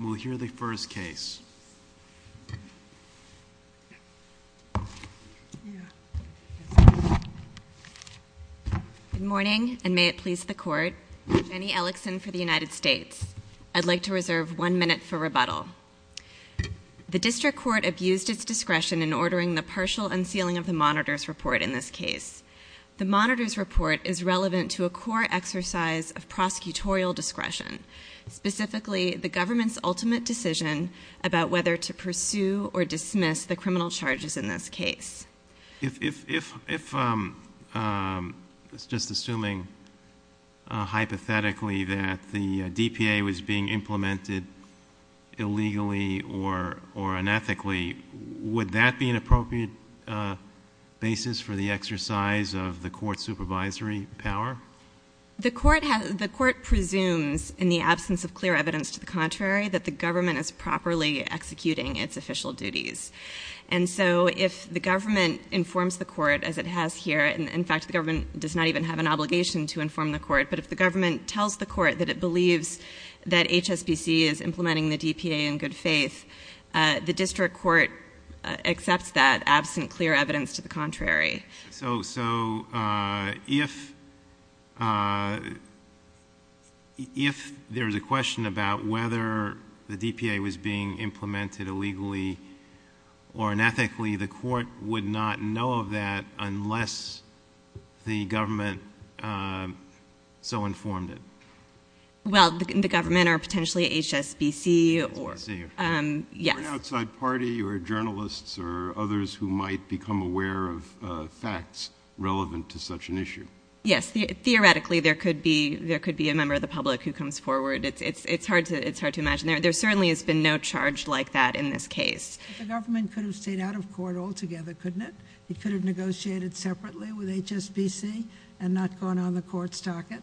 we'll hear the first case. Good morning and may it please the court. I'm Jenny Ellickson for the United States. I'd like to reserve one minute for rebuttal. The district court abused its discretion in ordering the partial unsealing of the monitor's report in this case. The monitor's report is relevant to a core exercise of prosecutorial discretion, specifically the government's ultimate decision about whether to pursue or dismiss the criminal charges in this case. If it's just assuming hypothetically that the DPA was being implemented illegally or or unethically, would that be an appropriate basis for the exercise of the court's supervisory power? The court presumes, in the absence of clear evidence to the contrary, that the government is properly executing its official duties. And so if the government informs the court, as it has here, and in fact the government does not even have an obligation to inform the court, but if the government tells the court that it believes that HSBC is implementing the DPA in good faith, the district court accepts that absent clear evidence to the contrary. So if there's a question about whether the DPA was being implemented illegally or unethically, the court would not know of that unless the government so informed it. Well, the government or potentially HSBC or, yes. Is there an outside party or journalists or others who might become aware of facts relevant to such an issue? Yes, theoretically there could be there could be a member of the public who comes forward. It's it's it's hard to it's hard to imagine. There certainly has been no charge like that in this case. The government could have stayed out of court altogether, couldn't it? It could have negotiated separately with HSBC and not gone on the court's docket?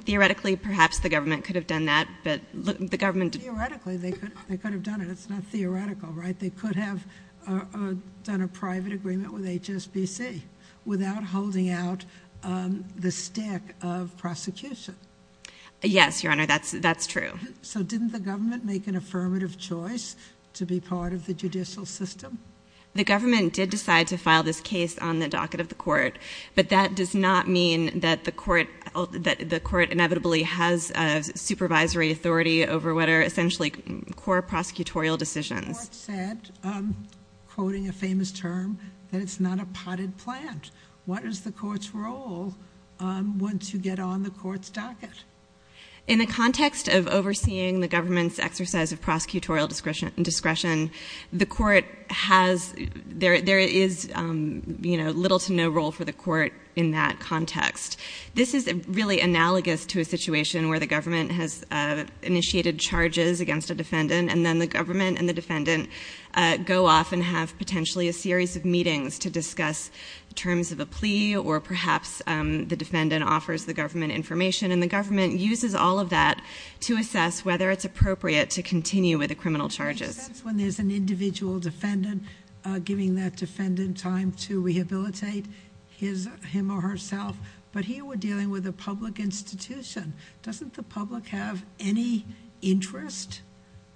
Theoretically, perhaps the government could have done that, but the government theoretically they could they could have done it. It's not theoretical, right? They could have done a private agreement with HSBC without holding out the stick of prosecution. Yes, Your Honor, that's that's true. So didn't the government make an affirmative choice to be part of the judicial system? The government did decide to file this case on the docket of the court, but that does not mean that the court that the court inevitably has a supervisory authority over whether essentially core prosecutorial decisions. The court said, quoting a famous term, that it's not a potted plant. What is the court's role once you get on the court's docket? In the context of overseeing the government's exercise of prosecutorial discretion and discretion, the court has there there is, you know, little to no role for the court in that context. This is really analogous to a situation where the defendant and then the government and the defendant go off and have potentially a series of meetings to discuss terms of a plea or perhaps the defendant offers the government information and the government uses all of that to assess whether it's appropriate to continue with the criminal charges. When there's an individual defendant giving that defendant time to rehabilitate his him or herself, but here we're dealing with a public institution. Doesn't the public have any interest?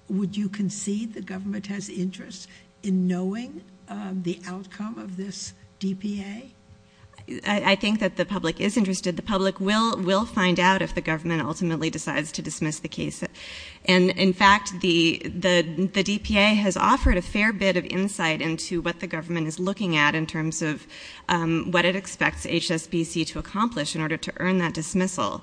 Would you concede the government has interest in knowing the outcome of this DPA? I think that the public is interested. The public will will find out if the government ultimately decides to dismiss the case, and in fact the the the DPA has offered a fair bit of insight into what the government is looking at in terms of what it expects HSBC to accomplish in order to earn that dismissal.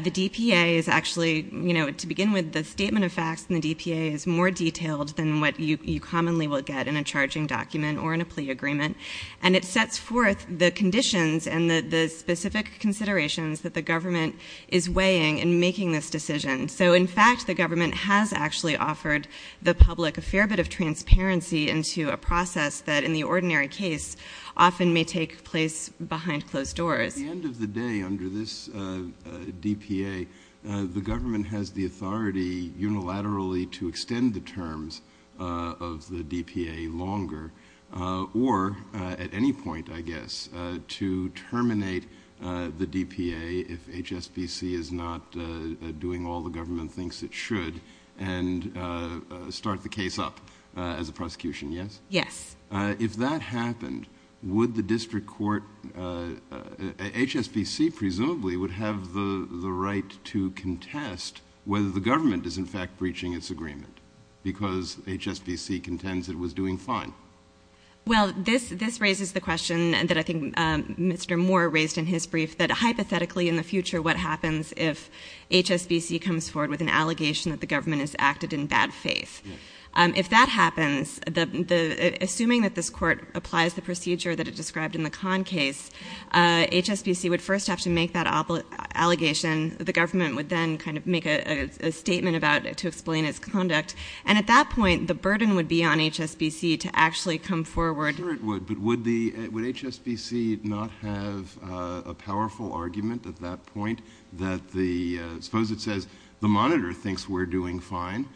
The DPA is actually, you know, to begin with, the statement of facts in the DPA is more detailed than what you commonly will get in a charging document or in a plea agreement, and it sets forth the conditions and the specific considerations that the government is weighing in making this decision. So in fact the government has actually offered the public a fair bit of transparency into a process that in the ordinary case often may take place behind closed doors. At the end of the day, under this DPA, the government has the authority unilaterally to extend the terms of the DPA longer, or at any point, I guess, to terminate the DPA if HSBC is not doing all the government thinks it should, and start the case up as a prosecution, yes? Yes. If that happened, would the district court, HSBC presumably, would have the the right to contest whether the government is in fact breaching its agreement, because HSBC contends it was doing fine? Well, this raises the question that I think Mr. Moore raised in his brief, that hypothetically in the future what happens if HSBC comes forward with an allegation that the government has acted in bad faith? If that happens, assuming that this court applies the procedure that it described in the Kahn case, HSBC would first have to make that allegation, the government would then kind of make a statement about it to explain its conduct, and at that point the burden would be on HSBC to actually come forward. Sure it would, but would HSBC not have a powerful argument at that point that the, suppose it says the monitor thinks we're doing fine,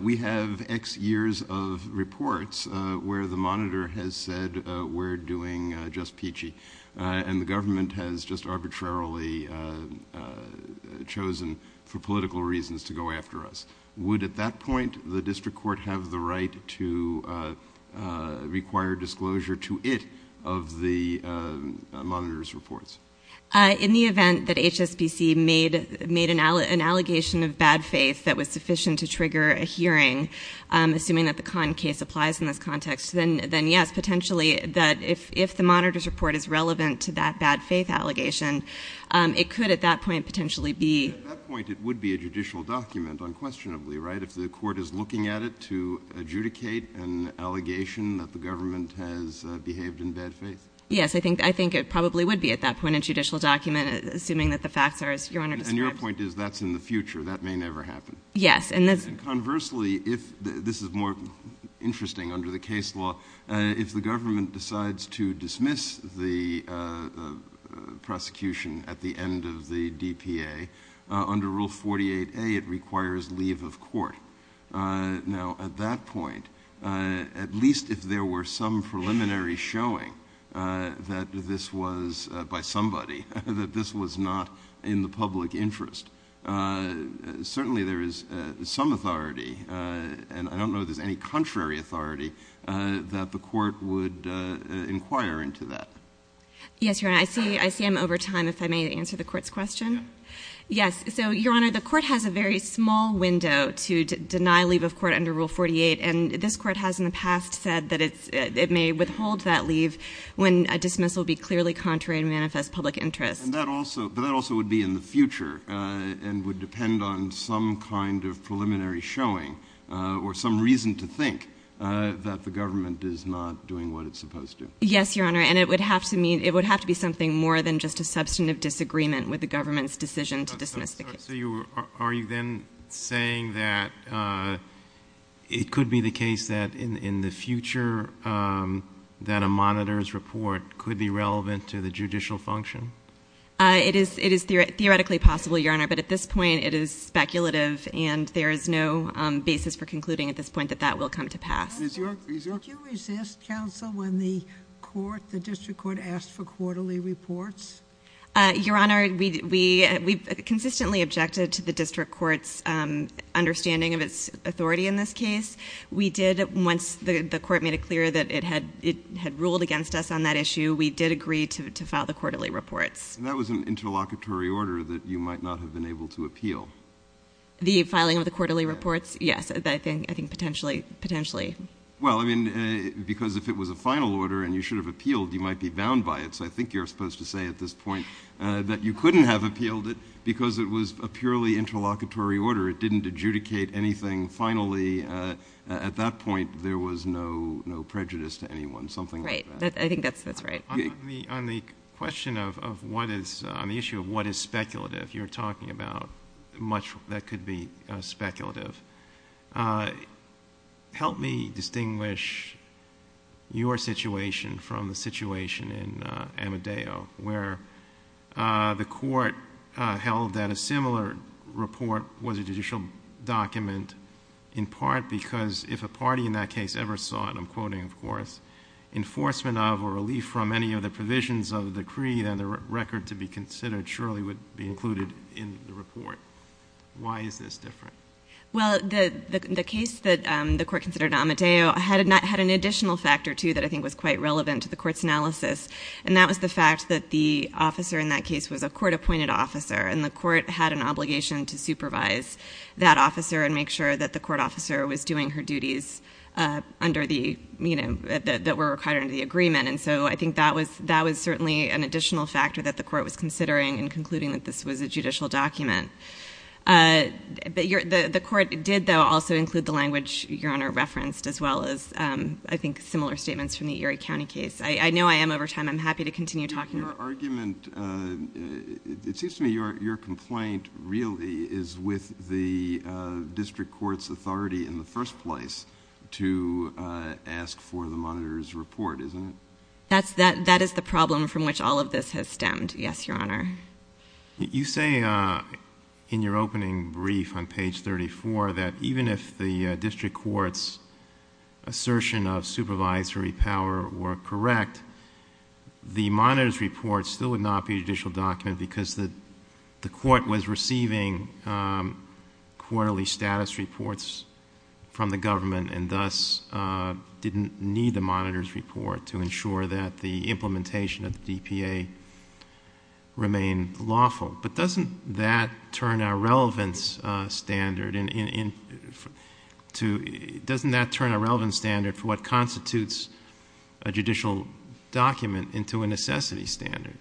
we have X years of reports where the monitor has said we're doing just peachy, and the government has just arbitrarily chosen for political reasons to go after us. Would at that point the district court have the right to require disclosure to it of the monitor's reports? In the event that HSBC made an allegation of bad faith that was sufficient to trigger a hearing, assuming that the Kahn case applies in this context, then yes, potentially that if the monitor's report is relevant to that bad faith allegation, it could at that point potentially be. At that point it would be a judicial document unquestionably, right? If the court is looking at it to adjudicate an allegation that the monitor has behaved in bad faith. Yes, I think it probably would be at that point a judicial document, assuming that the facts are as your Honor describes. And your point is that's in the future, that may never happen. Yes. And conversely, if, this is more interesting under the case law, if the government decides to dismiss the prosecution at the end of the DPA, under Rule 48A it requires leave of court. Now at that point, at least if there were some preliminary showing that this was by somebody, that this was not in the public interest, certainly there is some authority, and I don't know if there's any contrary authority, that the court would inquire into that. Yes, your Honor. I see, I see I'm over time, if I may answer the court's question. Yes, so your Honor, the court has a very small window to deny leave of court under Rule 48, and this court has in the past said that it may withhold that leave when a dismissal be clearly contrary to manifest public interest. And that also, but that also would be in the future, and would depend on some kind of preliminary showing, or some reason to think that the government is not doing what it's supposed to. Yes, your Honor, and it would have to mean, it would have to be something more than just a substantive disagreement with the government's decision to dismiss the case. So you, are you then saying that it could be the case that in the future that a monitor's report could be relevant to the judicial function? It is, it is theoretically possible, your Honor, but at this point it is speculative, and there is no basis for concluding at this point that that will come to pass. Did you resist counsel when the court, the district court asked for quarterly reports? We did not object to the district court's understanding of its authority in this case. We did, once the court made it clear that it had, it had ruled against us on that issue, we did agree to file the quarterly reports. And that was an interlocutory order that you might not have been able to appeal. The filing of the quarterly reports? Yes, I think, I think potentially, potentially. Well, I mean, because if it was a final order and you should have appealed, you might be bound by it, so I think you're supposed to say at this point that you had a purely interlocutory order, it didn't adjudicate anything finally, at that point there was no, no prejudice to anyone, something like that. Right, I think that's, that's right. On the, on the question of what is, on the issue of what is speculative, you're talking about much that could be speculative. Help me distinguish your situation from the situation in Amadeo, where the court held that a similar report was a judicial document, in part because if a party in that case ever saw, and I'm quoting of course, enforcement of or relief from any of the provisions of the decree, then the record to be considered surely would be included in the report. Why is this different? Well, the, the case that the court considered in Amadeo had an additional factor, too, that I think was quite relevant to the court's analysis, and that was the fact that the officer in that case was a court-appointed officer, and the court had an obligation to supervise that officer and make sure that the court officer was doing her duties under the, you know, that were required under the agreement, and so I think that was, that was certainly an additional factor that the court was considering in concluding that this was a judicial document. But your, the court did, though, also include the language your Honor referenced, as well as, I think, similar statements from the Erie County case. I, I know I am over time. I'm happy to go on. But it seems to me your, your complaint really is with the District Court's authority in the first place to ask for the monitor's report, isn't it? That's, that, that is the problem from which all of this has stemmed. Yes, Your Honor. You say in your opening brief on page thirty-four that even if the District Court's assertion of supervisory power were correct, the monitor's report still would not be a judicial document because the, the court was receiving quarterly status reports from the government and thus didn't need the monitor's report to ensure that the implementation of the DPA remain lawful. But doesn't that turn our relevance standard in, in, in, to, doesn't that turn our relevance standard for what constitutes a judicial document into a relevance standard?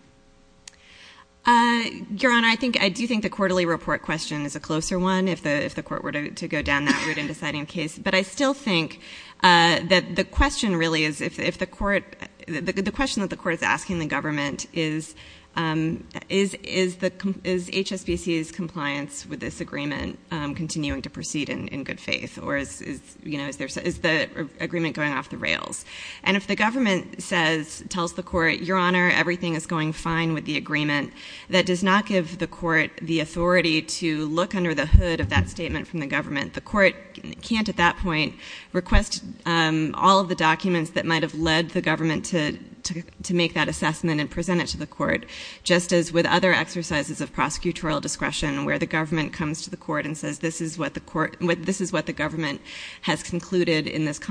Uh, Your Honor, I think, I do think the quarterly report question is a closer one if the, if the court were to, to go down that route in deciding the case. But I still think, uh, that the question really is if, if the court, the, the question that the court is asking the government is, um, is, is the, is HSBC's compliance with this agreement, um, continuing to proceed in, in good faith? Or is, is, you know, is there, is the agreement going off the rails? And if the government says, tells the court, Your Honor, everything is going fine with the agreement, that does not give the court the authority to look under the hood of that statement from the government. The court can't, at that point, request, um, all of the documents that might have led the government to, to, to make that assessment and present it to the court, just as with other exercises of prosecutorial discretion where the government comes to the court and says, this is what the court, this is what the government has concluded in this case.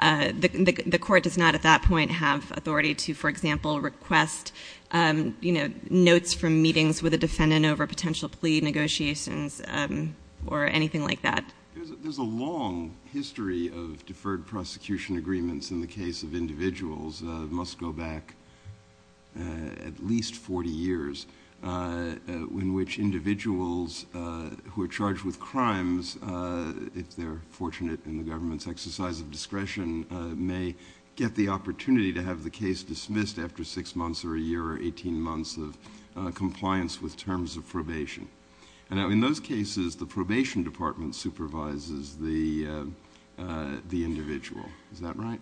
The, the court does not at that point have authority to, for example, request, um, you know, notes from meetings with a defendant over potential plea negotiations, um, or anything like that. There's a long history of deferred prosecution agreements in the case of individuals, uh, must go back, uh, at least 40 years, uh, in which individuals, uh, who are charged with crimes, uh, if they're fortunate in the government's exercise of discretion, uh, may get the opportunity to have the case dismissed after six months or a year or 18 months of, uh, compliance with terms of probation. And now in those cases, the probation department supervises the, uh, uh, the individual. Is that right?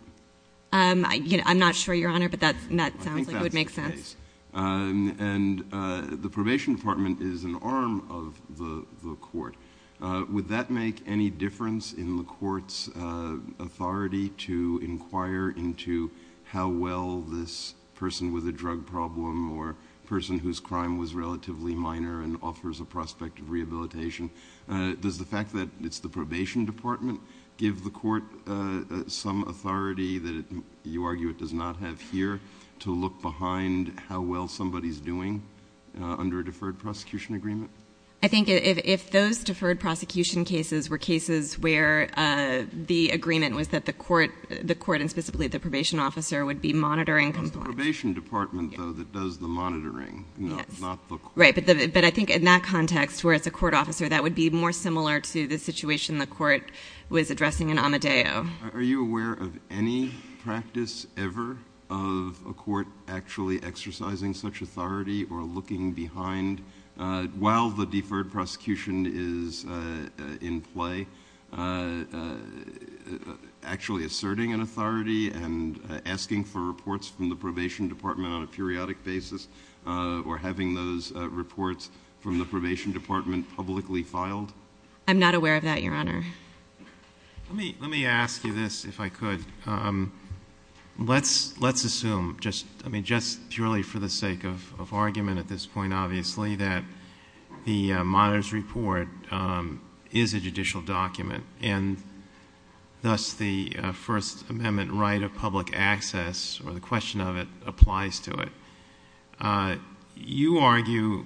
Um, I, you know, I'm not sure Your Honor, but that's, that sounds like it would make sense. Um, and, uh, the probation department is an arm of the, the court. Uh, would that make any difference in the court's, uh, authority to inquire into how well this person with a drug problem or person whose crime was relatively minor and offers a prospect of rehabilitation? Uh, does the fact that it's the probation department give the court, uh, some authority that you argue it does not have here to look behind how well somebody's doing, uh, under a deferred prosecution agreement? I think if, if those deferred prosecution cases were cases where, uh, the agreement was that the court, the court, and specifically the probation officer would be monitoring compliance. It's the probation department though that does the monitoring, not the court. Right. But the, but I think in that context where it's a court officer, that would be more similar to the situation the court was addressing in Amadeo. Are you aware of any practice ever of a court actually exercising such authority or looking behind, uh, while the deferred prosecution is, uh, in play, uh, uh, actually asserting an authority and asking for reports from the probation department on a periodic basis, uh, or having those reports from the probation department publicly filed? I'm not aware of that, Your Honor. Let me, let me ask you this if I could. Um, let's, let's assume just, I mean, just purely for the sake of, of argument at this point, obviously that the, uh, monitor's report, um, is a judicial document and thus the, uh, First Amendment right of public access or the question of it applies to it. Uh, you argue,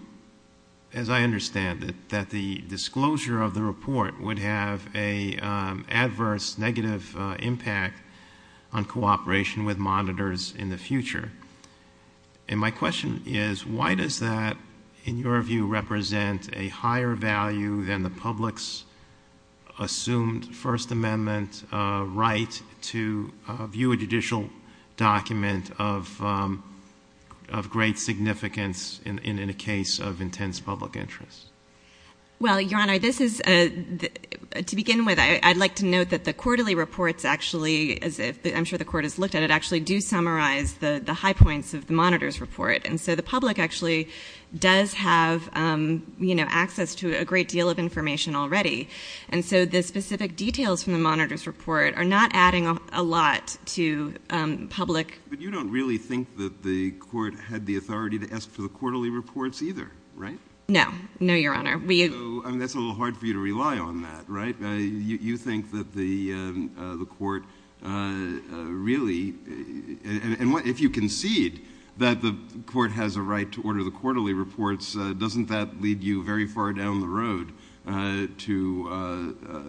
as I understand it, that the disclosure of the report would have a, um, adverse negative, uh, impact on cooperation with monitors in the future. And my question is why does that in your view represent a higher value than the public's assumed First Amendment, uh, right to view a judicial document of, um, of great significance in, in, in a case of intense public interest? Well, Your Honor, this is, uh, to begin with, I'd like to note that the quarterly reports actually, as if I'm sure the court has looked at it actually do summarize the, the high points of the monitor's report. And so the public actually does have, um, you know, access to a great deal of information already. And so the specific details from the monitor's report are not adding a lot to, um, public. But you don't really think that the court had the authority to ask for the quarterly reports either, right? No, no, Your Honor. We, I mean, that's a little hard for you to rely on that, right? Uh, you, you know, if you concede that the court has a right to order the quarterly reports, uh, doesn't that lead you very far down the road, uh, to, uh, uh,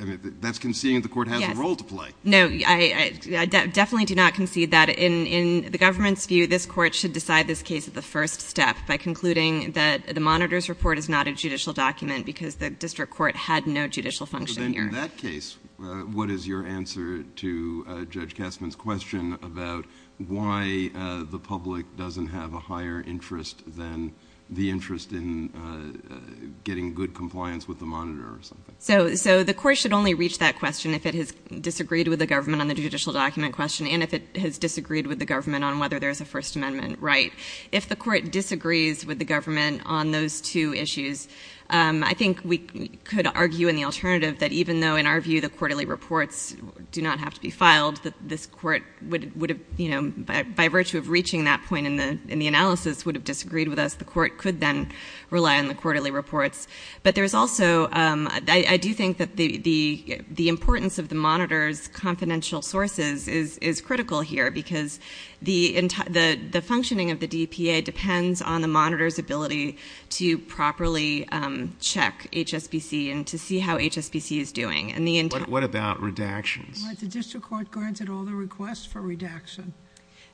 I mean, that's conceding that the court has a role to play. No, I definitely do not concede that in, in the government's view, this court should decide this case at the first step by concluding that the monitor's report is not a judicial document because the district court had no judicial function here. In that case, uh, what is your answer to, uh, Judge Castman's question about why, uh, the public doesn't have a higher interest than the interest in, uh, uh, getting good compliance with the monitor or something? So, so the court should only reach that question if it has disagreed with the government on the judicial document question, and if it has disagreed with the government on whether there's a first amendment right. If the court disagrees with the government on those two issues, um, I think we could argue in the court, even though in our view, the quarterly reports do not have to be filed, that this court would, would have, you know, by, by virtue of reaching that point in the, in the analysis would have disagreed with us, the court could then rely on the quarterly reports. But there's also, um, I, I do think that the, the, the importance of the monitor's confidential sources is, is critical here because the, the, the functioning of the DPA depends on the monitor's ability to properly, um, check HSBC and to see how HSBC is doing. And the entire... What, what about redactions? Well, the district court granted all the requests for redaction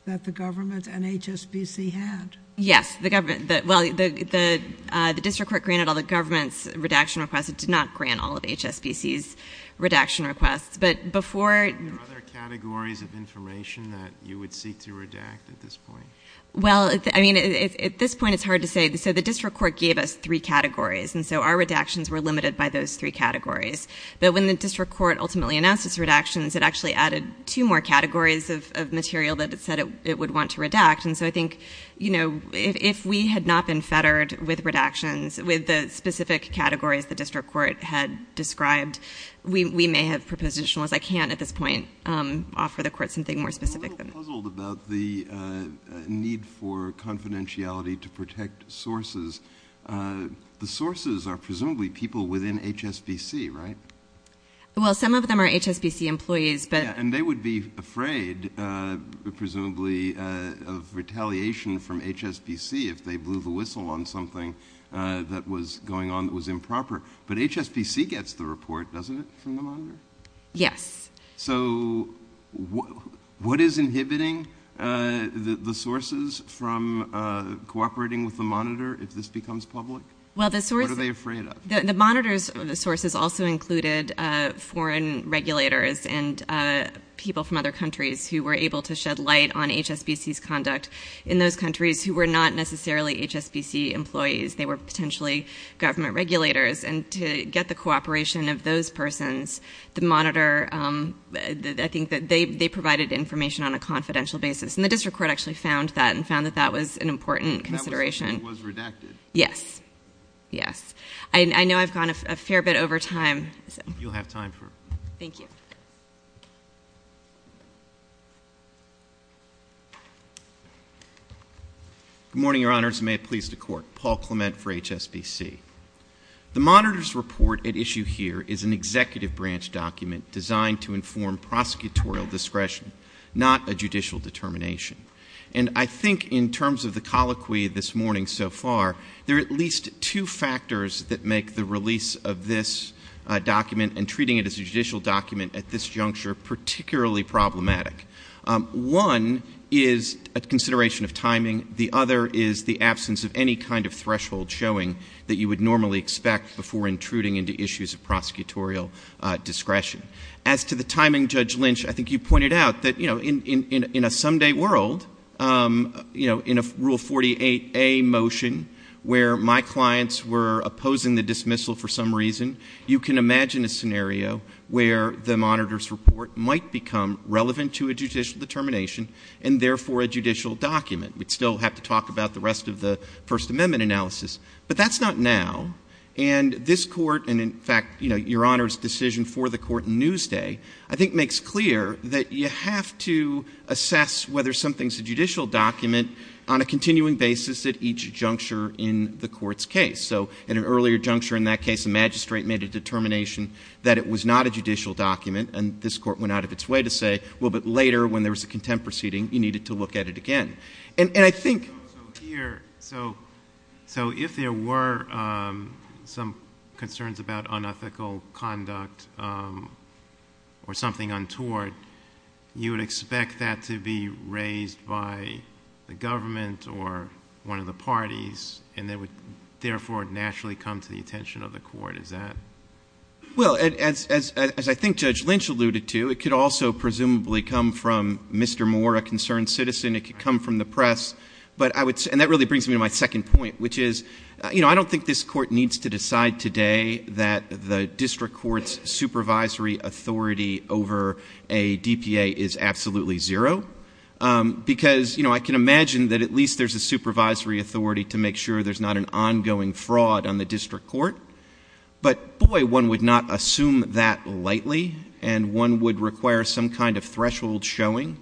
that the government and HSBC had. Yes. The government that, well, the, the, uh, the district court granted all the government's redaction requests. It did not grant all of HSBC's redaction requests, but before... Are there other categories of information that you would seek to redact at this point? Well, I mean, at this point it's hard to say. So the district court gave us three categories. And so our redactions were limited by those three categories. But when the district court ultimately announced its redactions, it actually added two more categories of, of material that it said it would want to redact. And so I think, you know, if, if we had not been fettered with redactions, with the specific categories the district court had described, we, we may have propositional, as I can't at this point, um, offer the court something more specific. I'm a little puzzled about the, uh, need for confidentiality to protect sources. Uh, the sources are presumably people within HSBC, right? Well, some of them are HSBC employees, but... And they would be afraid, uh, presumably, uh, of retaliation from HSBC if they blew the whistle on something, uh, that was going on that was improper, but HSBC gets the report, doesn't it, from the monitor? Yes. So what, what is inhibiting, uh, the, the sources from, uh, cooperating with the monitor if this becomes public? Well, the source... What are they afraid of? The monitors, the sources also included, uh, foreign regulators and, uh, people from other countries who were able to shed light on HSBC's conduct in those countries who were not necessarily HSBC employees, they were potentially government regulators and to get the cooperation of those persons, the I think that they, they provided information on a confidential basis. And the district court actually found that and found that that was an important consideration. It was redacted. Yes. Yes. I know I've gone a fair bit over time. You'll have time for... Thank you. Good morning, your honors. May it please the court. Paul Clement for HSBC. The monitor's report at issue here is an executive branch document designed to inform prosecutorial discretion, not a judicial determination. And I think in terms of the colloquy this morning so far, there are at least two factors that make the release of this, uh, document and treating it as a judicial document at this juncture, particularly problematic. Um, one is a consideration of timing. The other is the absence of any kind of threshold showing that you would normally expect before intruding into issues of prosecutorial, uh, discretion. As to the timing judge Lynch, I think you pointed out that, you know, in, in, in, in a someday world, um, you know, in a rule 48A motion where my clients were opposing the dismissal for some reason, you can imagine a scenario where the monitor's report might become relevant to a judicial determination and therefore a judicial document. We'd still have to talk about the rest of the first amendment analysis, but that's not now and this court, and in fact, you know, your honors decision for the court news day, I think makes clear that you have to assess whether something's a judicial document on a continuing basis at each juncture in the court's case. So at an earlier juncture, in that case, the magistrate made a determination that it was not a judicial document and this court went out of its way to say, well, but later when there was a contempt proceeding, you needed to look at it again. And I think here, so, so if there were, um, some concerns about unethical conduct, um, or something untoward, you would expect that to be raised by the government or one of the parties and that would therefore naturally come to the attention of the court. Is that. Well, as, as, as I think judge Lynch alluded to, it could also presumably come from Mr. Moore, a concerned citizen. It could come from the press, but I would say, and that really brings me to my second point, which is, you know, I don't think this court needs to decide today that the district court's supervisory authority over a DPA is absolutely zero. Um, because, you know, I can imagine that at least there's a supervisory authority to make sure there's not an ongoing fraud on the district court. But boy, one would not assume that lightly and one would require some kind of threshold showing.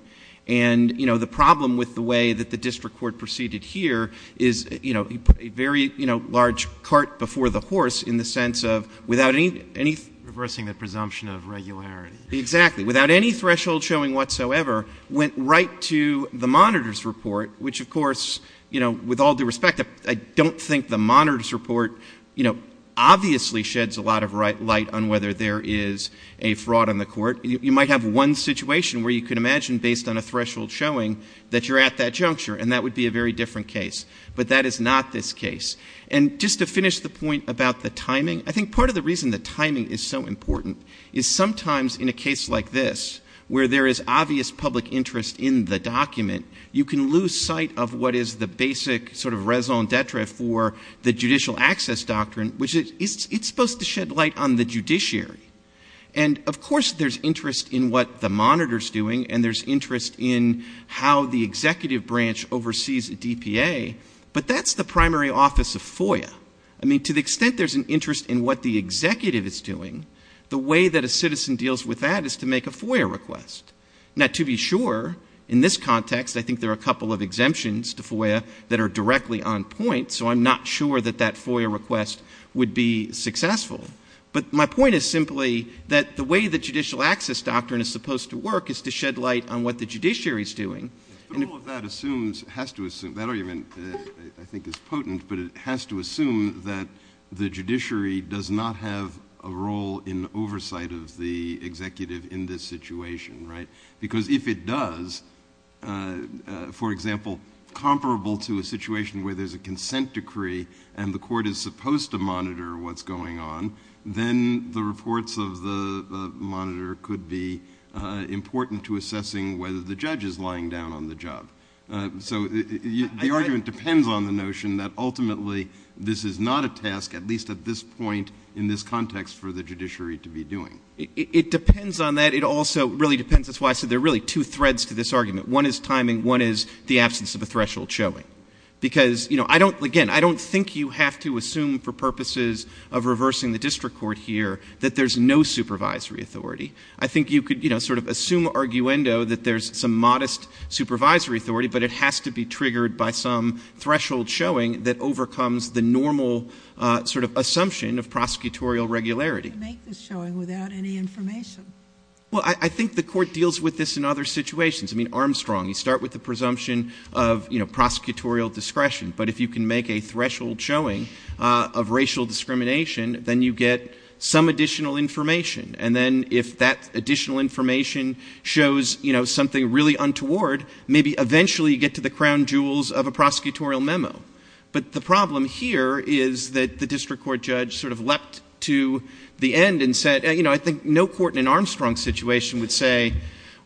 And, you know, the problem with the way that the district court proceeded here is, you know, a very, you know, large cart before the horse in the sense of without any, any reversing the presumption of regularity, exactly. Without any threshold showing whatsoever went right to the monitor's report, which of course, you know, with all due respect, I don't think the monitor's report, you know, obviously sheds a lot of light on whether there is a fraud on the court. that you're at that juncture. And that would be a very different case, but that is not this case. And just to finish the point about the timing, I think part of the reason the timing is so important is sometimes in a case like this, where there is obvious public interest in the document, you can lose sight of what is the basic sort of raison d'etre for the judicial access doctrine, which is it's supposed to shed light on the judiciary. And of course there's interest in what the monitor's doing. And there's interest in how the executive branch oversees a DPA, but that's the primary office of FOIA. I mean, to the extent there's an interest in what the executive is doing, the way that a citizen deals with that is to make a FOIA request. Now to be sure in this context, I think there are a couple of exemptions to FOIA that are directly on point. So I'm not sure that that FOIA request would be successful, but my point is simply that the way the judicial access doctrine is supposed to work is to shed light on what the judiciary is doing. But all of that assumes, has to assume, that argument I think is potent, but it has to assume that the judiciary does not have a role in oversight of the executive in this situation, right? Because if it does, for example, comparable to a situation where there's a consent decree and the court is supposed to monitor what's going on, then the reports of the monitor could be important to assessing whether the judge is lying down on the job. So the argument depends on the notion that ultimately this is not a task, at least at this point, in this context for the judiciary to be doing. It depends on that. It also really depends, that's why I said there are really two threads to this argument. One is timing, one is the absence of a threshold showing. Because, you know, I don't, again, I don't think you have to assume for purposes of there's no supervisory authority. I think you could, you know, sort of assume arguendo that there's some modest supervisory authority, but it has to be triggered by some threshold showing that overcomes the normal sort of assumption of prosecutorial regularity. You can't make this showing without any information. Well, I think the court deals with this in other situations. I mean, Armstrong, you start with the presumption of, you know, prosecutorial discretion. But if you can make a threshold showing of racial discrimination, then you get some additional information. And then if that additional information shows, you know, something really untoward, maybe eventually you get to the crown jewels of a prosecutorial memo. But the problem here is that the district court judge sort of leapt to the end and said, you know, I think no court in an Armstrong situation would say,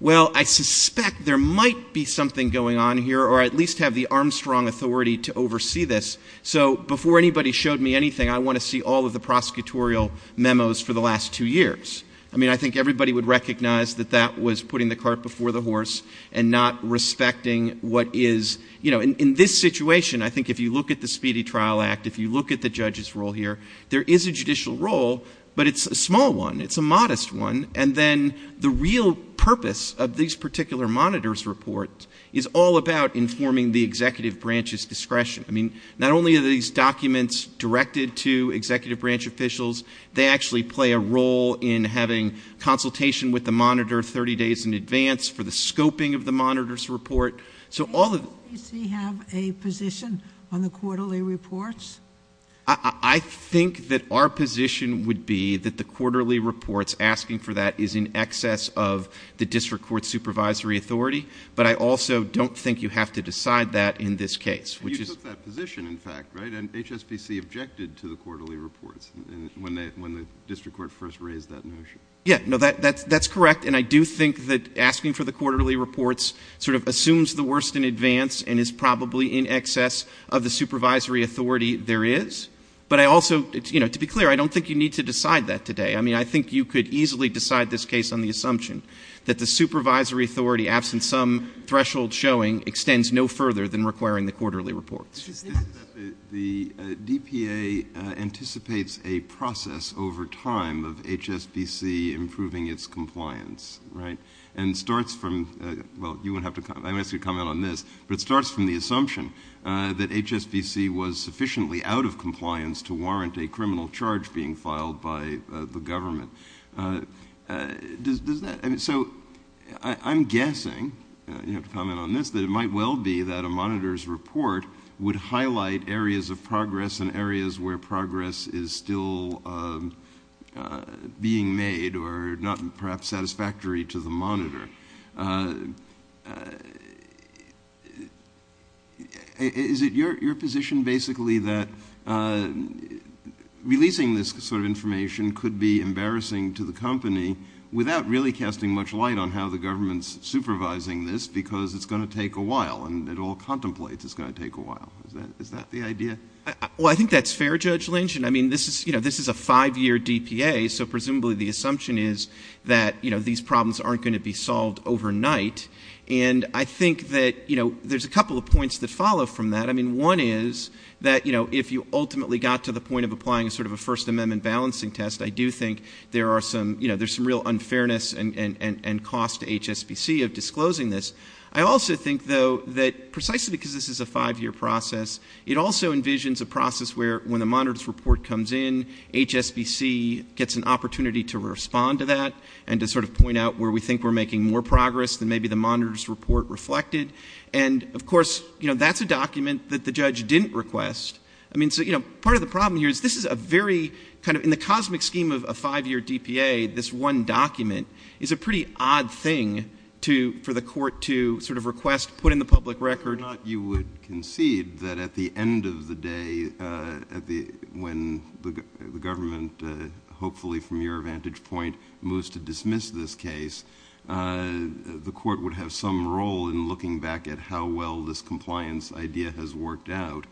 well, I suspect there might be something going on here, or at least have the Armstrong authority to oversee this. So before anybody showed me anything, I want to see all of the prosecutorial memos for the last two years. I mean, I think everybody would recognize that that was putting the cart before the horse and not respecting what is, you know, in this situation, I think if you look at the Speedy Trial Act, if you look at the judge's role here, there is a judicial role, but it's a small one. It's a modest one. And then the real purpose of these particular monitors report is all about informing the executive branch's discretion. I mean, not only are these documents directed to executive branch officials, they actually play a role in having consultation with the monitor 30 days in advance for the scoping of the monitor's report. So all of them have a position on the quarterly reports. I think that our position would be that the quarterly reports asking for that is in excess of the district court supervisory authority. But I also don't think you have to decide that in this case, which is a position in fact, right? And HSPC objected to the quarterly reports when they, when the district court first raised that notion. Yeah, no, that that's, that's correct. And I do think that asking for the quarterly reports sort of assumes the worst in advance and is probably in excess of the supervisory authority there is, but I also, you know, to be clear, I don't think you need to decide that today. I mean, I think you could easily decide this case on the assumption that the supervisory authority absent some threshold showing extends no further than requiring the quarterly reports. The DPA anticipates a process over time of HSBC improving its compliance, right? And starts from, well, you wouldn't have to come, I'm asking you to comment on this, but it starts from the assumption that HSBC was sufficiently out of compliance to warrant a criminal charge being filed by the government. Does that, I mean, so I'm guessing you have to comment on this, that it might well be that a monitor's report would highlight areas of progress and areas where progress is still being made or not perhaps satisfactory to the monitor. Is it your position basically that releasing this sort of information could be embarrassing to the company without really casting much light on how the And it all contemplates it's going to take a while. Is that, is that the idea? Well, I think that's fair, Judge Lynch. And I mean, this is, you know, this is a five year DPA. So presumably the assumption is that, you know, these problems aren't going to be solved overnight. And I think that, you know, there's a couple of points that follow from that. I mean, one is that, you know, if you ultimately got to the point of applying a sort of a first amendment balancing test, I do think there are some, you know, there's some real unfairness and cost to HSBC of disclosing this. I also think though that precisely because this is a five year process, it also envisions a process where when the monitor's report comes in, HSBC gets an opportunity to respond to that and to sort of point out where we think we're making more progress than maybe the monitor's report reflected. And of course, you know, that's a document that the judge didn't request. I mean, so, you know, part of the problem here is this is a very kind of, in the cosmic scheme of a five year DPA, this one document is a pretty odd thing to, for the court to sort of request, put in the public record. You would concede that at the end of the day, uh, at the, when the government, uh, hopefully from your vantage point moves to dismiss this case, uh, the court would have some role in looking back at how well this compliance idea has worked out,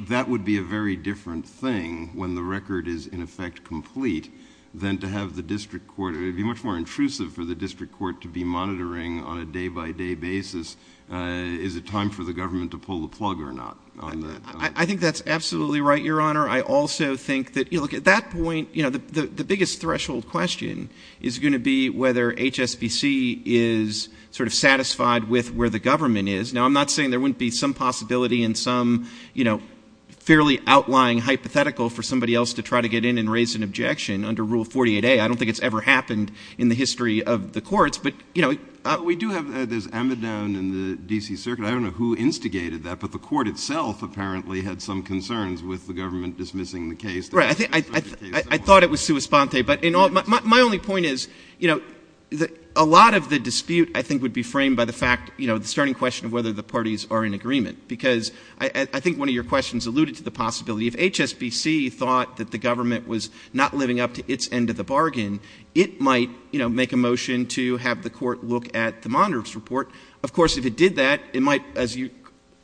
that would be a very different thing when the record is in effect complete than to have the district court, it'd be much more intrusive for the district court to be monitoring on a day by day basis, uh, is it time for the government to pull the plug or not on that? I think that's absolutely right. Your honor. I also think that, you know, look at that point, you know, the, the, the biggest threshold question is going to be whether HSBC is sort of satisfied with where the government is. Now, I'm not saying there wouldn't be some possibility in some, you know, fairly outlying hypothetical for somebody else to try to get in and raise an objection under rule 48A. I don't think it's ever happened in the history of the courts, but you know, we do have, uh, there's Amidon in the DC circuit. I don't know who instigated that, but the court itself apparently had some concerns with the government dismissing the case. Right. I think I, I thought it was sua sponte, but in all my, my only point is, you know, the, a lot of the dispute I think would be framed by the fact, you know, the starting question of whether the parties are in agreement, because I think one of your questions alluded to the possibility of HSBC thought that the bargain, it might, you know, make a motion to have the court look at the monitor's report. Of course, if it did that, it might, as your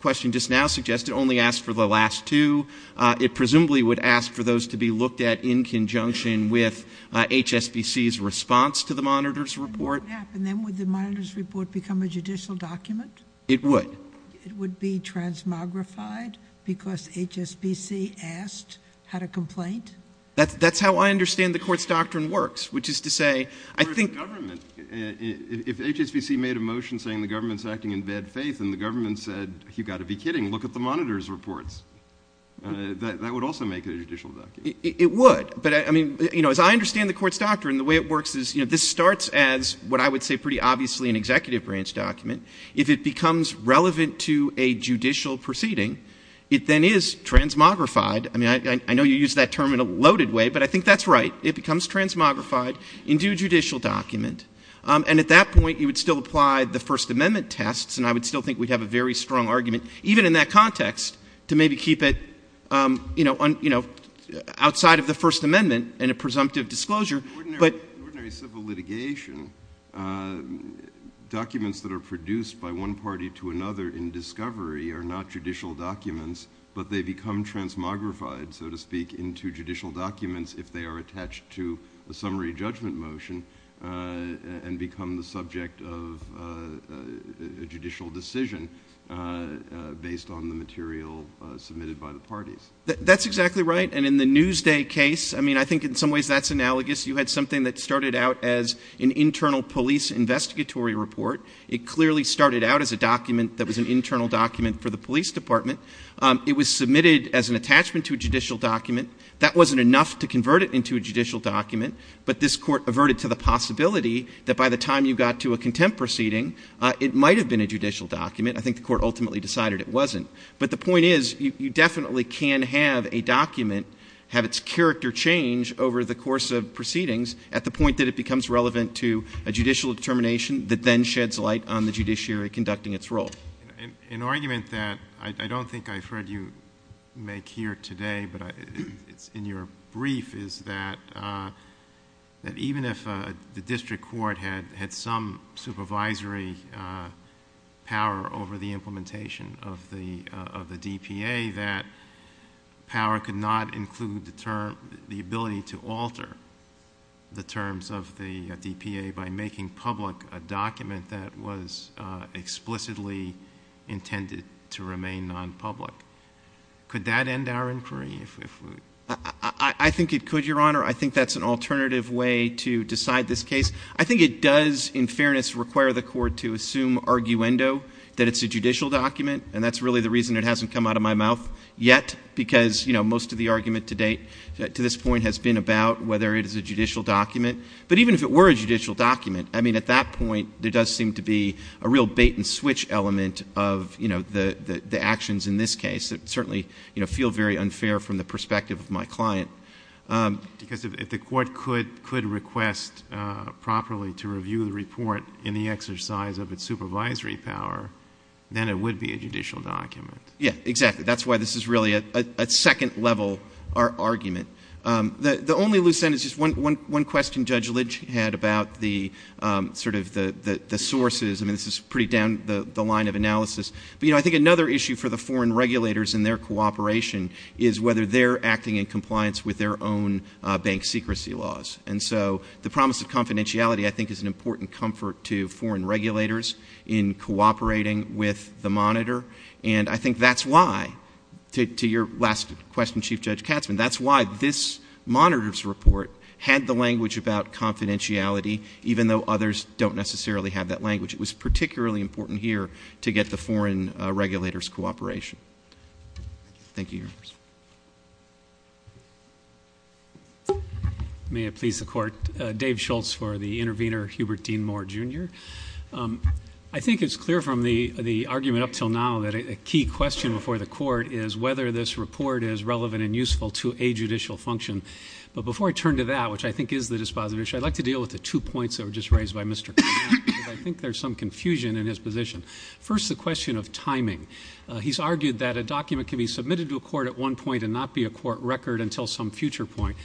question just now suggested, only ask for the last two. Uh, it presumably would ask for those to be looked at in conjunction with, uh, HSBC's response to the monitor's report. And what would happen then with the monitor's report become a judicial document? It would. It would be transmogrified because HSBC asked, had a complaint? That's, that's how I understand the court's doctrine works, which is to say, I think. Government, if HSBC made a motion saying the government's acting in bad faith and the government said, you got to be kidding. Look at the monitor's reports. Uh, that, that would also make it a judicial document. It would, but I mean, you know, as I understand the court's doctrine, the way it works is, you know, this starts as what I would say, pretty obviously an executive branch document. If it becomes relevant to a judicial proceeding, it then is transmogrified. I mean, I, I know you use that term in a loaded way, but I think that's right. It becomes transmogrified in due judicial document. Um, and at that point you would still apply the first amendment tests. And I would still think we'd have a very strong argument, even in that context to maybe keep it, um, you know, on, you know, outside of the first amendment and a presumptive disclosure, but. Ordinary civil litigation, uh, documents that are produced by one party to another in discovery are not judicial documents, but they become transmogrified, so to speak, into judicial documents. If they are attached to a summary judgment motion, uh, and become the subject of, uh, a judicial decision, uh, uh, based on the material, uh, submitted by the parties, that's exactly right. And in the news day case, I mean, I think in some ways that's analogous. You had something that started out as an internal police investigatory report. It clearly started out as a document that was an internal document for the police department. Um, it was submitted as an attachment to a judicial document. That wasn't enough to convert it into a judicial document, but this court averted to the possibility that by the time you got to a contempt proceeding, uh, it might've been a judicial document. I think the court ultimately decided it wasn't, but the point is you definitely can have a document have its character change over the course of proceedings at the point that it becomes relevant to a judicial determination that then sheds light on the judiciary conducting its role. An argument that I don't think I've heard you make here today, but it's in your brief is that, uh, that even if, uh, the district court had, had some supervisory, uh, power over the implementation of the, uh, of the DPA, that power could not include the term, the ability to alter the terms of the DPA by making public a document that was, uh, explicitly intended to remain non-public, could that end our inquiry? If we, if we, I think it could, your honor. I think that's an alternative way to decide this case. I think it does in fairness, require the court to assume arguendo that it's a judicial document. And that's really the reason it hasn't come out of my mouth yet, because you know, most of the argument to date to this point has been about whether it is a judicial document. But even if it were a judicial document, I mean, at that point, there does seem to be a real bait and switch element of, you know, the, the, the actions in this case that certainly, you know, feel very unfair from the perspective of my client. Um, because if, if the court could, could request, uh, properly to review the report in the exercise of its supervisory power, then it would be a judicial document. Yeah, exactly. That's why this is really a, a, a second level argument. Um, the, the only loose end is just one, one, one question Judge Lidge had about the, um, sort of the, the, the sources. I mean, this is pretty down the line of analysis, but, you know, I think another issue for the foreign regulators and their cooperation is whether they're acting in compliance with their own, uh, bank secrecy laws. And so the promise of confidentiality, I think is an important comfort to foreign regulators in cooperating with the monitor, and I think that's why. To, to your last question, Chief Judge Katzman, that's why this monitor's report had the language about confidentiality, even though others don't necessarily have that language. It was particularly important here to get the foreign regulators cooperation. Thank you. May it please the court, uh, Dave Schultz for the intervener, Hubert Dean Moore Jr. Um, I think it's clear from the, the argument up till now that a key question before the court is whether this report is relevant and useful to a judicial function. But before I turn to that, which I think is the disposition, I'd like to deal with the two points that were just raised by Mr. I think there's some confusion in his position. First, the question of timing. Uh, he's argued that a document can be submitted to a court at one point and not be a court record until some future point,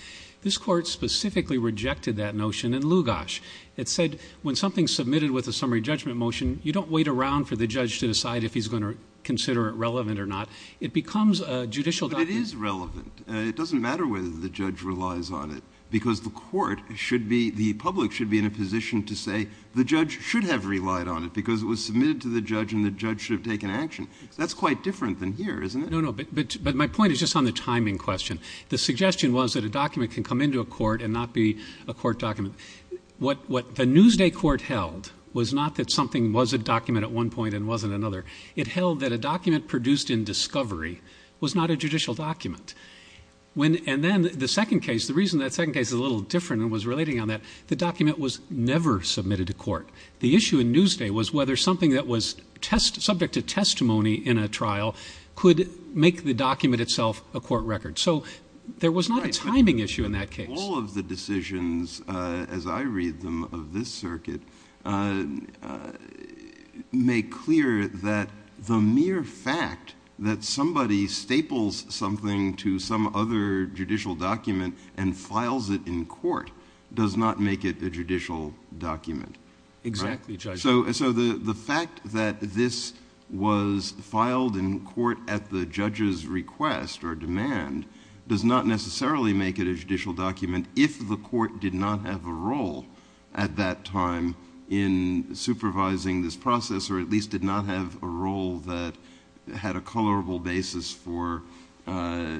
this court specifically rejected that notion in Lugos. It said when something's submitted with a summary judgment motion, you don't wait around for the judge to decide if he's going to consider it relevant or not. It becomes a judicial. But it is relevant. Uh, it doesn't matter whether the judge relies on it because the court should be, the public should be in a position to say the judge should have relied on it because it was submitted to the judge and the judge should have taken action. That's quite different than here, isn't it? No, no, but, but, but my point is just on the timing question. The suggestion was that a document can come into a court and not be a court What, what the Newsday court held was not that something was a document at one point and wasn't another. It held that a document produced in discovery was not a judicial document. When, and then the second case, the reason that second case is a little different and was relating on that. The document was never submitted to court. The issue in Newsday was whether something that was test subject to testimony in a trial could make the document itself a court record. So there was not a timing issue in that case. All of the decisions, uh, as I read them of this circuit, uh, uh, make clear that the mere fact that somebody staples something to some other judicial document and files it in court does not make it a judicial document. Exactly. So, so the, the fact that this was filed in court at the judge's request or does not necessarily make it a judicial document if the court did not have a role at that time in supervising this process, or at least did not have a role that had a colorable basis for, uh, uh,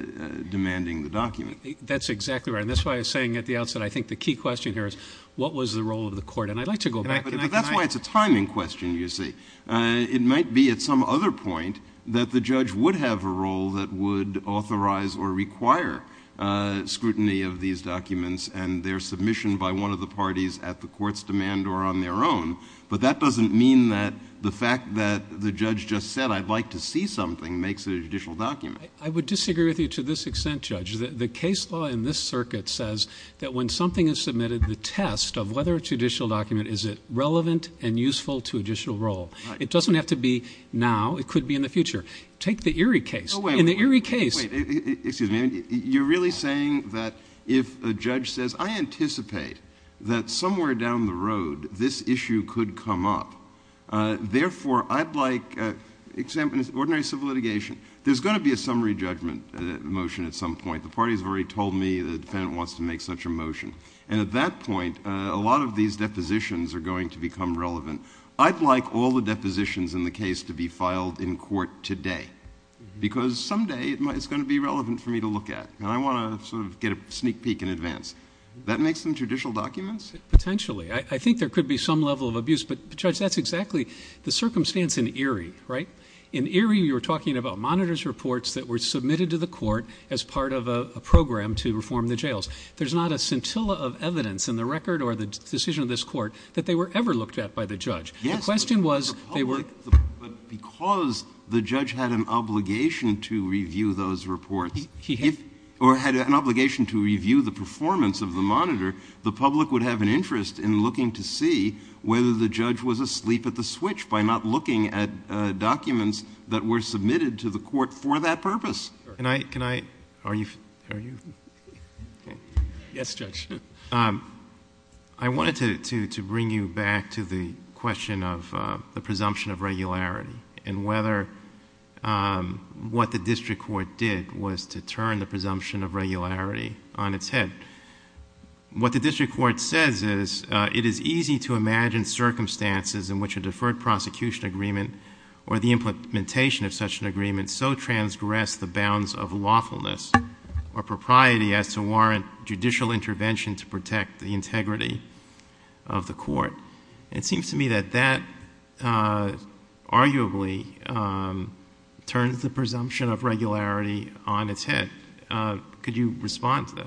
demanding the document. That's exactly right. And that's why I was saying at the outset, I think the key question here is what was the role of the court? And I'd like to go back. That's why it's a timing question. You see, uh, it might be at some other point that the judge would have a role that would authorize or require, uh, scrutiny of these documents and their submission by one of the parties at the court's demand or on their own. But that doesn't mean that the fact that the judge just said, I'd like to see something, makes it a judicial document. I would disagree with you to this extent, judge, that the case law in this circuit says that when something is submitted, the test of whether it's judicial document, is it relevant and useful to judicial role? It doesn't have to be now. It could be in the future. Take the Erie case. In the Erie case. Wait, excuse me. And you're really saying that if a judge says, I anticipate that somewhere down the road, this issue could come up, uh, therefore I'd like, uh, examples, ordinary civil litigation, there's going to be a summary judgment motion. At some point, the party has already told me that the defendant wants to make such a motion. And at that point, a lot of these depositions are going to become relevant. I'd like all the depositions in the case to be filed in court today. Because someday it might, it's going to be relevant for me to look at. And I want to sort of get a sneak peek in advance. That makes them judicial documents? Potentially. I think there could be some level of abuse, but judge, that's exactly the circumstance in Erie, right? In Erie, you were talking about monitors reports that were submitted to the court as part of a program to reform the jails. There's not a scintilla of evidence in the record or the decision of this court that they were ever looked at by the judge. The question was, they were. But because the judge had an obligation to review those reports, or had an obligation to review the performance of the monitor, the public would have an interest in looking to see whether the judge was asleep at the switch by not looking at documents that were submitted to the court for that purpose. Can I, can I, are you, are you? Yes, judge. Um, I wanted to, to, to bring you back to the question of, uh, the presumption of regularity and whether, um, what the district court did was to turn the presumption of regularity on its head, what the district court says is, uh, it is easy to imagine circumstances in which a deferred prosecution agreement or the implementation of such an agreement. So transgress the bounds of lawfulness or propriety as to warrant judicial intervention to protect the integrity of the court. It seems to me that that, uh, arguably, um, turns the presumption of regularity on its head. Uh, could you respond to that?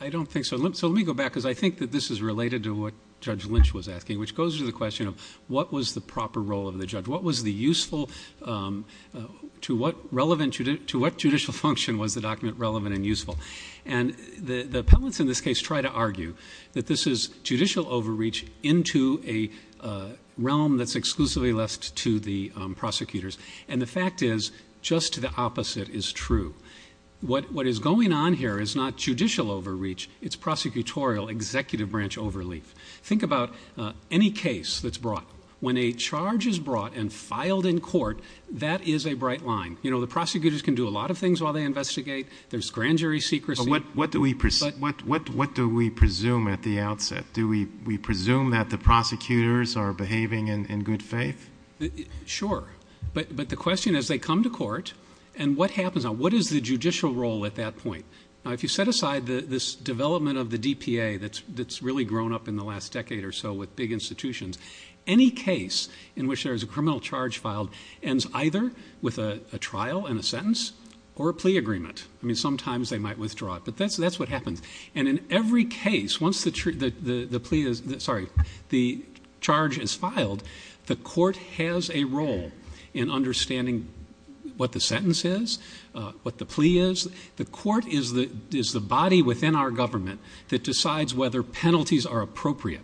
I don't think so. Let me, so let me go back. Cause I think that this is related to what judge Lynch was asking, which goes to the question of what was the proper role of the judge? What was the useful, um, uh, to what relevant to, to what judicial function was the document relevant and useful. And the, the appellants in this case, try to argue that this is judicial overreach into a, uh, realm that's exclusively left to the prosecutors. And the fact is just the opposite is true. What, what is going on here is not judicial overreach. It's prosecutorial executive branch, overleaf. Think about, uh, any case that's brought when a charge is brought and filed in court, that is a bright line. You know, the prosecutors can do a lot of things while they investigate. There's grand jury secrecy. What, what do we, what, what, what do we presume at the outset? Do we, we presume that the prosecutors are behaving in good faith? Sure. But, but the question is they come to court and what happens on what is the judicial role at that point? Now, if you set aside the, this development of the DPA, that's, that's really grown up in the last decade or so with big institutions, any case in which there is a criminal charge filed ends either with a trial and a sentence or a plea agreement. I mean, sometimes they might withdraw it, but that's, that's what happens. And in every case, once the, the plea is, sorry, the charge is filed, the court has a role in understanding what the sentence is, uh, what the plea is. The court is the, is the body within our government that decides whether penalties are appropriate.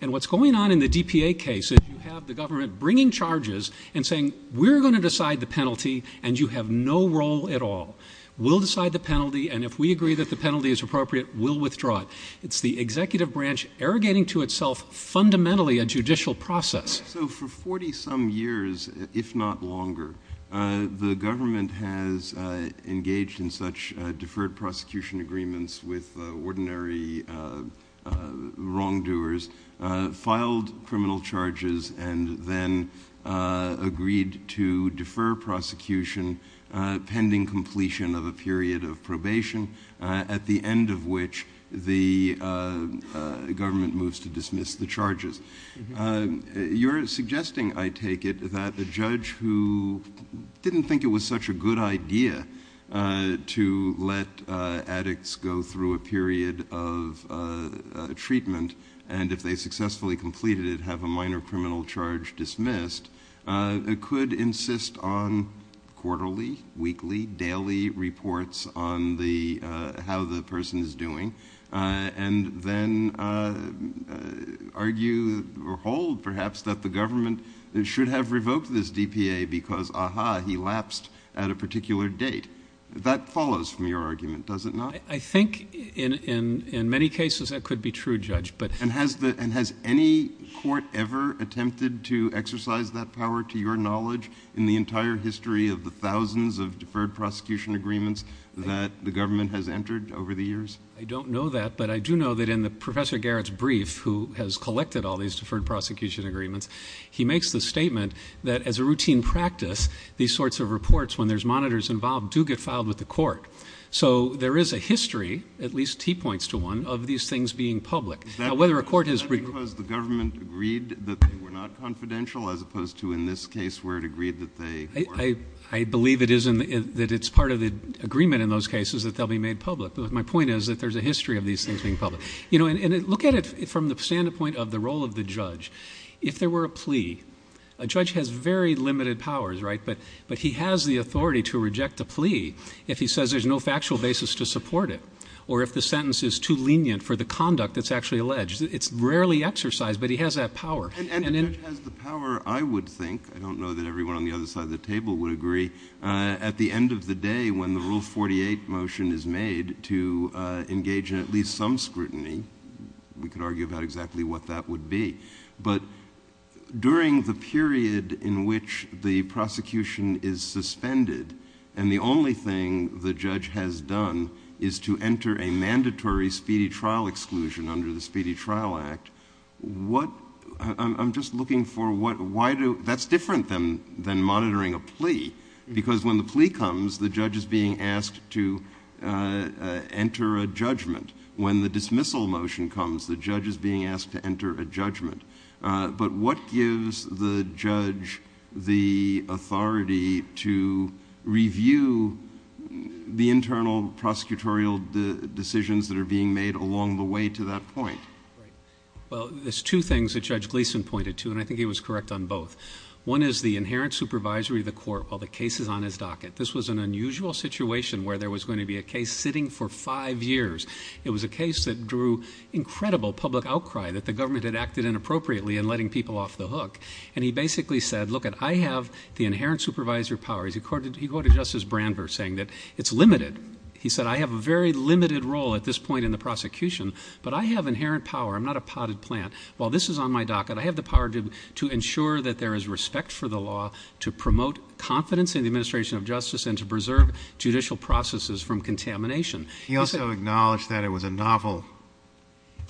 And what's going on in the DPA case is you have the government bringing charges and saying, we're going to decide the penalty and you have no role at all. We'll decide the penalty. And if we agree that the penalty is appropriate, we'll withdraw it. It's the executive branch arrogating to itself, fundamentally a judicial process. So for 40 some years, if not longer, uh, the government has, uh, engaged in such, uh, deferred prosecution agreements with ordinary, uh, uh, wrongdoers, uh, filed criminal charges and then, uh, agreed to defer prosecution, uh, pending completion of a period of probation, uh, at the end of which the, uh, uh, government moves to dismiss the charges, uh, you're suggesting, I take it that the judge who didn't think it was such a good idea, uh, to let, uh, addicts go through a period of, uh, uh, treatment. And if they successfully completed it, have a minor criminal charge dismissed, uh, could insist on quarterly, weekly, daily reports on the, uh, how the person is doing, uh, and then, uh, uh, argue or hold perhaps that the government should have revoked this DPA because aha, he lapsed at a particular date that follows from your argument, does it not? I think in, in, in many cases that could be true judge, but and has the, and has any court ever attempted to exercise that power to your knowledge in the entire history of the thousands of deferred prosecution agreements that the government has entered over the years? I don't know that, but I do know that in the professor Garrett's brief, who has collected all these deferred prosecution agreements, he makes the statement that as a routine practice, these sorts of reports, when there's monitors involved do get filed with the court. So there is a history, at least T points to one of these things being public, whether a court has agreed that they were not confidential, as opposed to in this case, where it agreed that they, I believe it is in the, that it's part of the agreement in those cases that they'll be made public. But my point is that there's a history of these things being public, you know, and look at it from the standpoint of the role of the judge. If there were a plea, a judge has very limited powers, right? But, but he has the authority to reject a plea. If he says there's no factual basis to support it, or if the sentence is too lenient for the conduct that's actually alleged, it's rarely exercised, but he has that power. And the judge has the power, I would think, I don't know that everyone on the other side of the table would agree, at the end of the day, when the rule 48 motion is made to engage in at least some scrutiny, we could argue about exactly what that would be, but during the period in which the prosecution is suspended, and the only thing the judge has done is to enter a mandatory speedy trial exclusion under the Speedy Trial Act, what, I'm just looking for what, why do, that's different than, than monitoring a plea, because when the plea comes, the judge is being asked to enter a judgment. When the dismissal motion comes, the judge is being asked to enter a judgment. But what gives the judge the authority to review the internal prosecutorial decisions that are being made along the way to that point? Well, there's two things that Judge Gleeson pointed to, and I think he was correct on both. One is the inherent supervisory of the court while the case is on his docket. This was an unusual situation where there was going to be a case sitting for five years. It was a case that drew incredible public outcry that the government had acted inappropriately in letting people off the hook. And he basically said, look, I have the inherent supervisor power. He quoted, he quoted Justice Brandberg saying that it's limited. He said, I have a very limited role at this point in the prosecution, but I have inherent power. I'm not a potted plant. While this is on my docket, I have the power to, to ensure that there is respect for the law, to promote confidence in the administration of justice, and to preserve judicial processes from contamination. He also acknowledged that it was a novel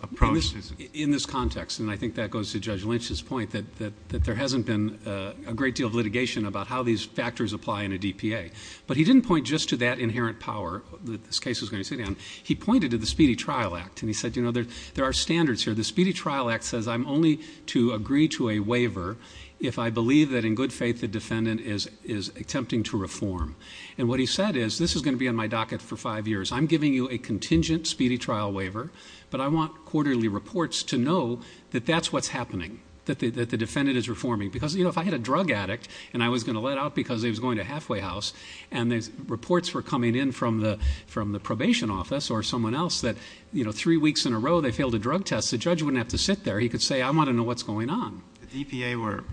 approach. In this context, and I think that goes to Judge Lynch's point that, that, that there hasn't been a great deal of litigation about how these factors apply in a DPA, but he didn't point just to that inherent power that this case was going to sit down. He pointed to the Speedy Trial Act and he said, you know, there, there are standards here. The Speedy Trial Act says I'm only to agree to a waiver if I believe that in good faith, the defendant is, is attempting to reform. And what he said is this is going to be on my docket for five years. I'm giving you a contingent Speedy Trial waiver, but I want quarterly reports to know that that's what's happening, that the, that the defendant is reforming. Because, you know, if I had a drug addict and I was going to let out because he was going to halfway house and there's reports were coming in from the, from the probation office or someone else that, you know, three weeks in a row, they failed a drug test. The judge wouldn't have to sit there. He could say, I want to know what's going on. The DPA were,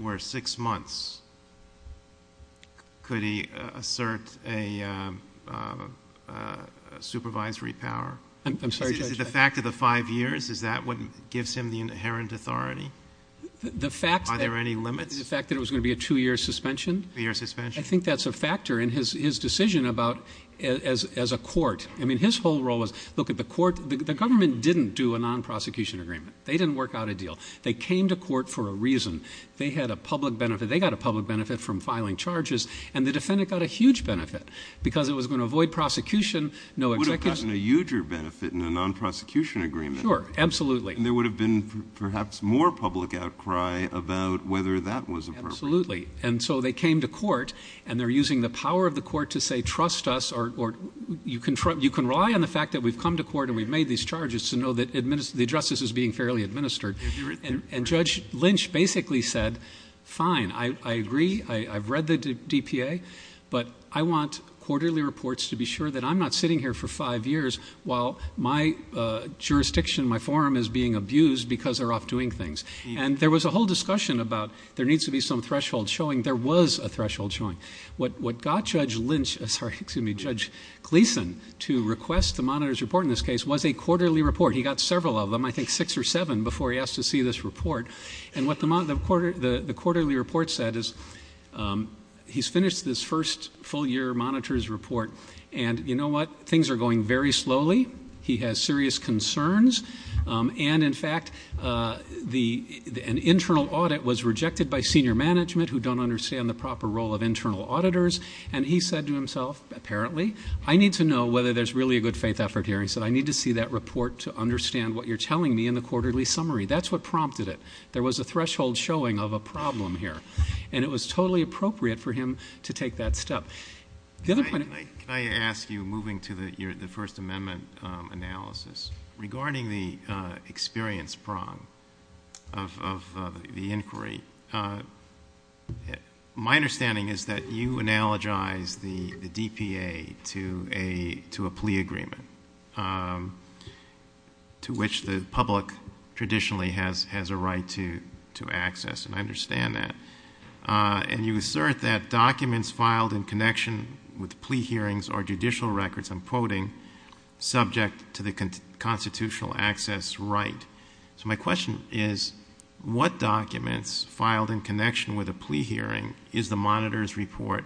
were six months. Could he assert a, um, uh, uh, supervisory power? I'm sorry, judge. The fact of the five years, is that what gives him the inherent authority? The fact that there are any limits, the fact that it was going to be a two year suspension, your suspension. I think that's a factor in his, his decision about as, as a court. I mean, his whole role was look at the court, the government didn't do a non-prosecution agreement. They didn't work out a deal. They came to court for a reason. They had a public benefit. They got a public benefit from filing charges and the defendant got a huge benefit. Because it was going to avoid prosecution. No, it would have gotten a huger benefit in a non-prosecution agreement. Sure. Absolutely. And there would have been perhaps more public outcry about whether that was absolutely. And so they came to court and they're using the power of the court to say, trust us, or you can trust, you can rely on the fact that we've come to court and we've made these charges to know that the justice is being fairly administered. And judge Lynch basically said, fine. I agree. I I've read the DPA, but I want quarterly reports to be sure that I'm not sitting here for five years while my, uh, jurisdiction, my forum is being abused because they're off doing things. And there was a whole discussion about there needs to be some threshold showing. There was a threshold showing what, what got judge Lynch, sorry, excuse me, judge Gleason to request the monitor's report in this case was a quarterly report. He got several of them, I think six or seven before he asked to see this report. And what the month of quarter, the quarterly report said is, um, he's finished this first full year monitors report. And you know what? Things are going very slowly. He has serious concerns. Um, and in fact, uh, the, the, an internal audit was rejected by senior management who don't understand the proper role of internal auditors. And he said to himself, apparently, I need to know whether there's really a good faith effort here. And he said, I need to see that report to understand what you're telling me in the quarterly summary. That's what prompted it. There was a threshold showing of a problem here, and it was totally appropriate for him to take that step. The other point I ask you moving to the year, the first amendment, um, analysis regarding the, uh, experience prong of, of, uh, the inquiry. Uh, my understanding is that you analogize the DPA to a, to a plea agreement, um, to which the public traditionally has, has a right to, to access, and I understand that. Uh, and you assert that documents filed in connection with plea hearings or judicial records, I'm quoting subject to the constitutional access, right? So my question is what documents filed in connection with a plea hearing is the monitor's report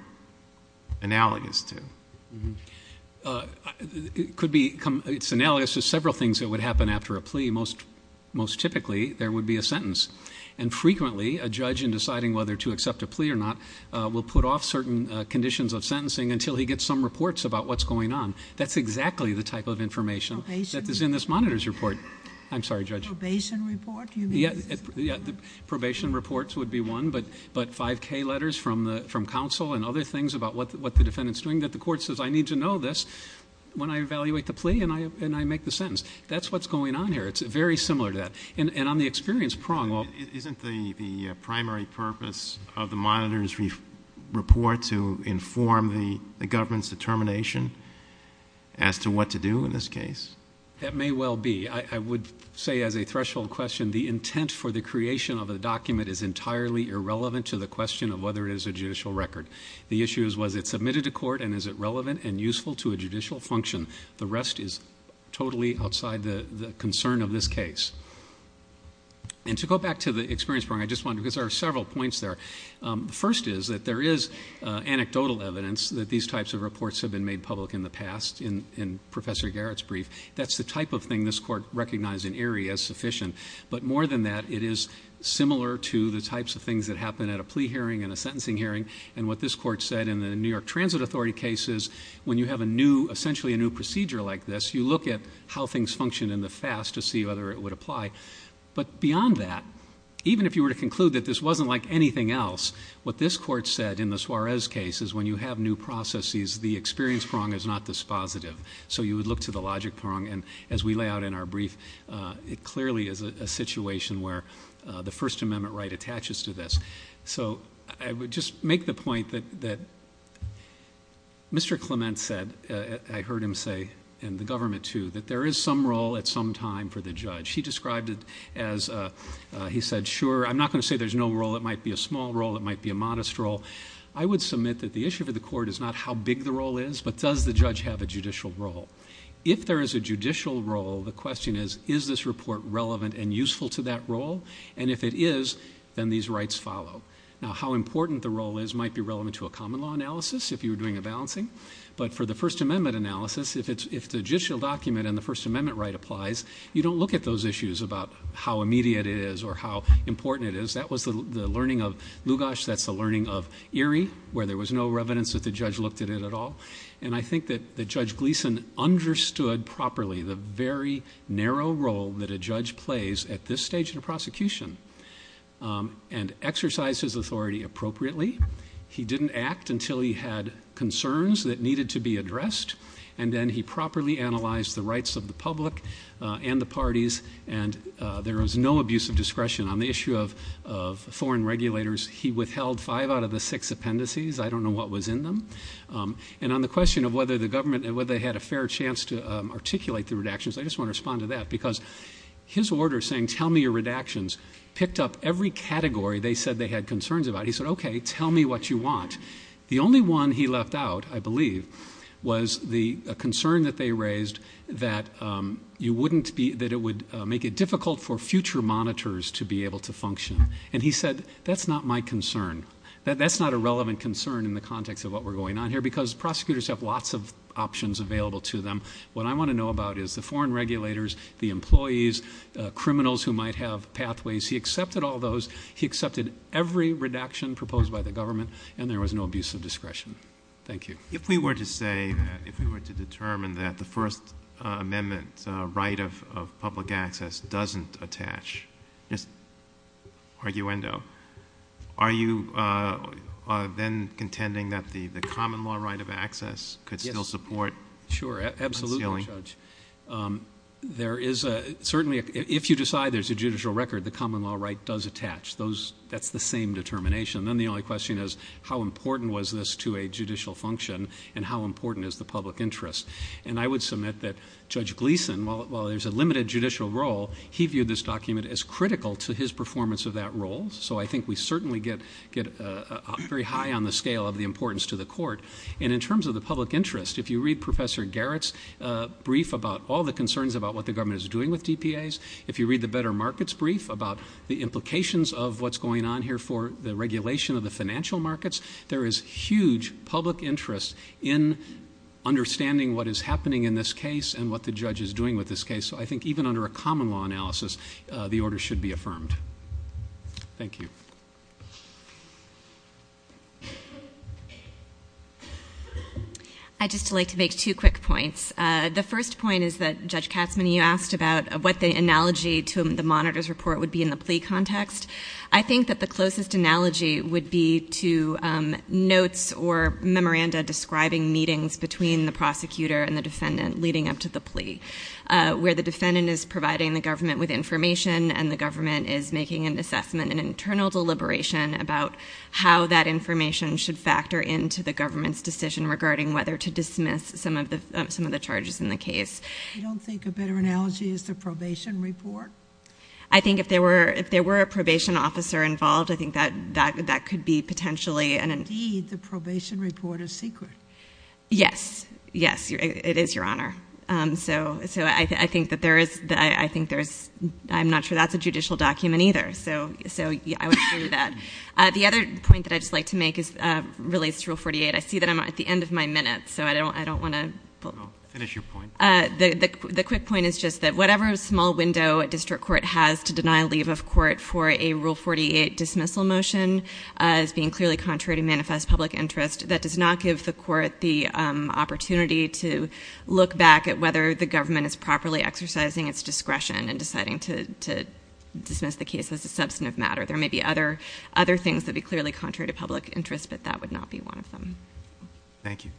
analogous to? Uh, it could be, it's analogous to several things that would happen after a plea. Most, most typically there would be a sentence and frequently a judge in whether to accept a plea or not, uh, will put off certain, uh, conditions of sentencing until he gets some reports about what's going on. That's exactly the type of information that is in this monitor's report. I'm sorry, judge. Probation report. You mean? Yeah, yeah. The probation reports would be one, but, but 5k letters from the, from counsel and other things about what, what the defendant's doing that the court says, I need to know this when I evaluate the plea and I, and I make the sentence, that's what's going on here. It's very similar to that. And, and on the experience prong. Isn't the primary purpose of the monitor's report to inform the, the government's determination as to what to do in this case? That may well be, I would say as a threshold question, the intent for the creation of a document is entirely irrelevant to the question of whether it is a judicial record. The issue is, was it submitted to court and is it relevant and useful to a judicial function? The rest is totally outside the concern of this case. And to go back to the experience prong, I just wanted to, because there are several points there. Um, the first is that there is anecdotal evidence that these types of reports have been made public in the past in, in professor Garrett's brief. That's the type of thing this court recognized in Erie as sufficient. But more than that, it is similar to the types of things that happen at a plea hearing and a sentencing hearing. And what this court said in the New York transit authority cases, when you have a new, essentially a new procedure like this, you look at how things function in the fast to see whether it would apply, but beyond that, even if you were to conclude that this wasn't like anything else, what this court said in the Suarez case is when you have new processes, the experience prong is not this positive. So you would look to the logic prong. And as we lay out in our brief, uh, it clearly is a situation where, uh, the first amendment right attaches to this. So I would just make the point that, that Mr. Clement said, uh, I heard him say, and the government too, that there is some role at some time for the judge. He described it as, uh, uh, he said, sure. I'm not going to say there's no role. It might be a small role. It might be a modest role. I would submit that the issue for the court is not how big the role is, but does the judge have a judicial role? If there is a judicial role, the question is, is this report relevant and useful to that role? And if it is, then these rights follow. Now, how important the role is might be relevant to a common law analysis if you were doing a balancing, but for the first amendment analysis, if it's, if the judicial document and the first amendment right applies, you don't look at those issues about how immediate it is or how important it is. That was the learning of Lugos. That's the learning of Erie where there was no evidence that the judge looked at it at all. And I think that the judge Gleason understood properly the very narrow role that a judge plays at this stage in a prosecution, um, and exercise his authority appropriately. He didn't act until he had concerns that needed to be addressed. And then he properly analyzed the rights of the public, uh, and the parties. And, uh, there was no abuse of discretion on the issue of, of foreign regulators. He withheld five out of the six appendices. I don't know what was in them. Um, and on the question of whether the government, whether they had a fair chance to, um, articulate the redactions, I just want to respond to that because his order saying, tell me your redactions picked up every category. They said they had concerns about it. He said, okay, tell me what you want. The only one he left out, I believe, was the concern that they raised that, um, you wouldn't be, that it would make it difficult for future monitors to be able to function. And he said, that's not my concern. That that's not a relevant concern in the context of what we're going on here, because prosecutors have lots of options available to them. What I want to know about is the foreign regulators, the employees, uh, criminals who might have pathways. He accepted all those. He accepted every redaction proposed by the government. And there was no abuse of discretion. Thank you. If we were to say that if we were to determine that the first, uh, amendment, uh, right of, of public access doesn't attach just arguendo, are you, uh, uh, then contending that the, the common law right of access could still support? Sure. Absolutely. Um, there is a, certainly if you decide there's a judicial record, the common law right does attach those. That's the same determination. And then the only question is how important was this to a judicial function and how important is the public interest? And I would submit that judge Gleason, while, while there's a limited judicial role, he viewed this document as critical to his performance of that role. So I think we certainly get, get, uh, very high on the scale of the importance to the court. And in terms of the public interest, if you read professor Garrett's, uh, brief about all the concerns about what the government is doing with DPAs. If you read the better markets brief about the implications of what's going on here for the regulation of the financial markets, there is huge public interest in understanding what is happening in this case and what the judge is doing with this case. So I think even under a common law analysis, uh, the order should be affirmed. Thank you. I just like to make two quick points. Uh, the first point is that judge Katzmann, you asked about what the analogy to the monitor's report would be in the plea context. I think that the closest analogy would be to, um, notes or memoranda describing meetings between the prosecutor and the defendant leading up to the plea, uh, where the defendant is providing the government with information and the government is making an assessment and internal deliberation about how that information should factor into the government's decision regarding whether to dismiss some of the, um, some of the charges in the case. I don't think a better analogy is the probation report. I think if there were, if there were a probation officer involved, I think that, that, that could be potentially and indeed the probation report is secret. Yes, yes, it is your honor. Um, so, so I think that there is, I think there's, I'm not sure that's a judicial document either. So, so I would agree with that. Uh, the other point that I'd just like to make is, uh, relates to rule 48. I see that I'm at the end of my minute, so I don't, I don't want to finish your Uh, the, the, the quick point is just that whatever small window a district court has to deny leave of court for a rule 48 dismissal motion, uh, is being clearly contrary to manifest public interest. That does not give the court the, um, opportunity to look back at whether the government is properly exercising its discretion and deciding to, to dismiss the case as a substantive matter. There may be other, other things that'd be clearly contrary to public interest, but that would not be one of them. Thank you.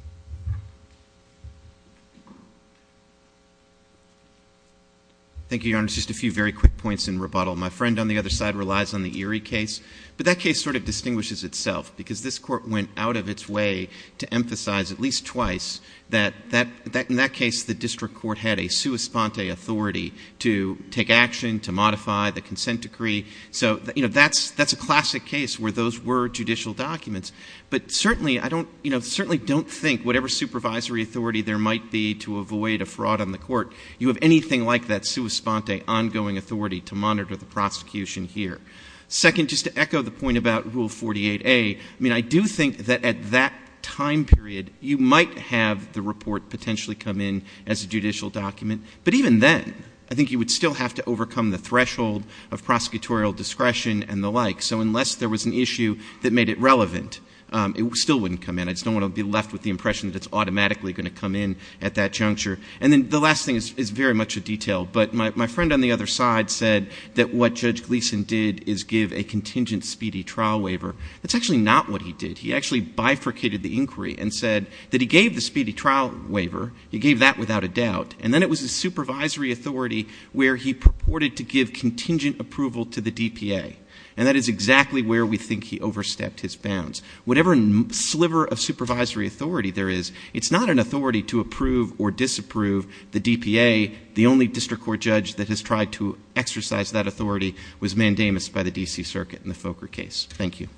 Thank you, your honor. Just a few very quick points in rebuttal. My friend on the other side relies on the Erie case, but that case sort of distinguishes itself because this court went out of its way to emphasize at least twice that, that, that, in that case, the district court had a sua sponte authority to take action, to modify the consent decree. So, you know, that's, that's a classic case where those were judicial documents, but certainly I don't, you know, certainly don't think whatever supervisory authority there might be to avoid a judicial decision. A fraud on the court, you have anything like that sua sponte ongoing authority to monitor the prosecution here. Second, just to echo the point about rule 48a. I mean, I do think that at that time period, you might have the report potentially come in as a judicial document, but even then I think you would still have to overcome the threshold of prosecutorial discretion and the like. So unless there was an issue that made it relevant, um, it still wouldn't come in. I just don't want to be left with the impression that it's automatically going to come in at that juncture. And then the last thing is very much a detail, but my friend on the other side said that what Judge Gleason did is give a contingent speedy trial waiver. That's actually not what he did. He actually bifurcated the inquiry and said that he gave the speedy trial waiver. He gave that without a doubt. And then it was a supervisory authority where he purported to give contingent approval to the DPA. And that is exactly where we think he overstepped his bounds. Whatever sliver of supervisory authority there is, it's not an authority to approve or disapprove the DPA. The only district court judge that has tried to exercise that authority was mandamus by the DC circuit in the Fokker case. Thank you.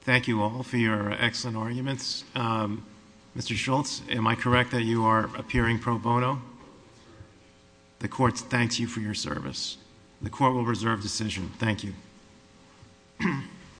Thank you all for your excellent arguments. Um, Mr. Schultz, am I correct that you are appearing pro bono? The court thanks you for your service. The court will reserve decision. Thank you.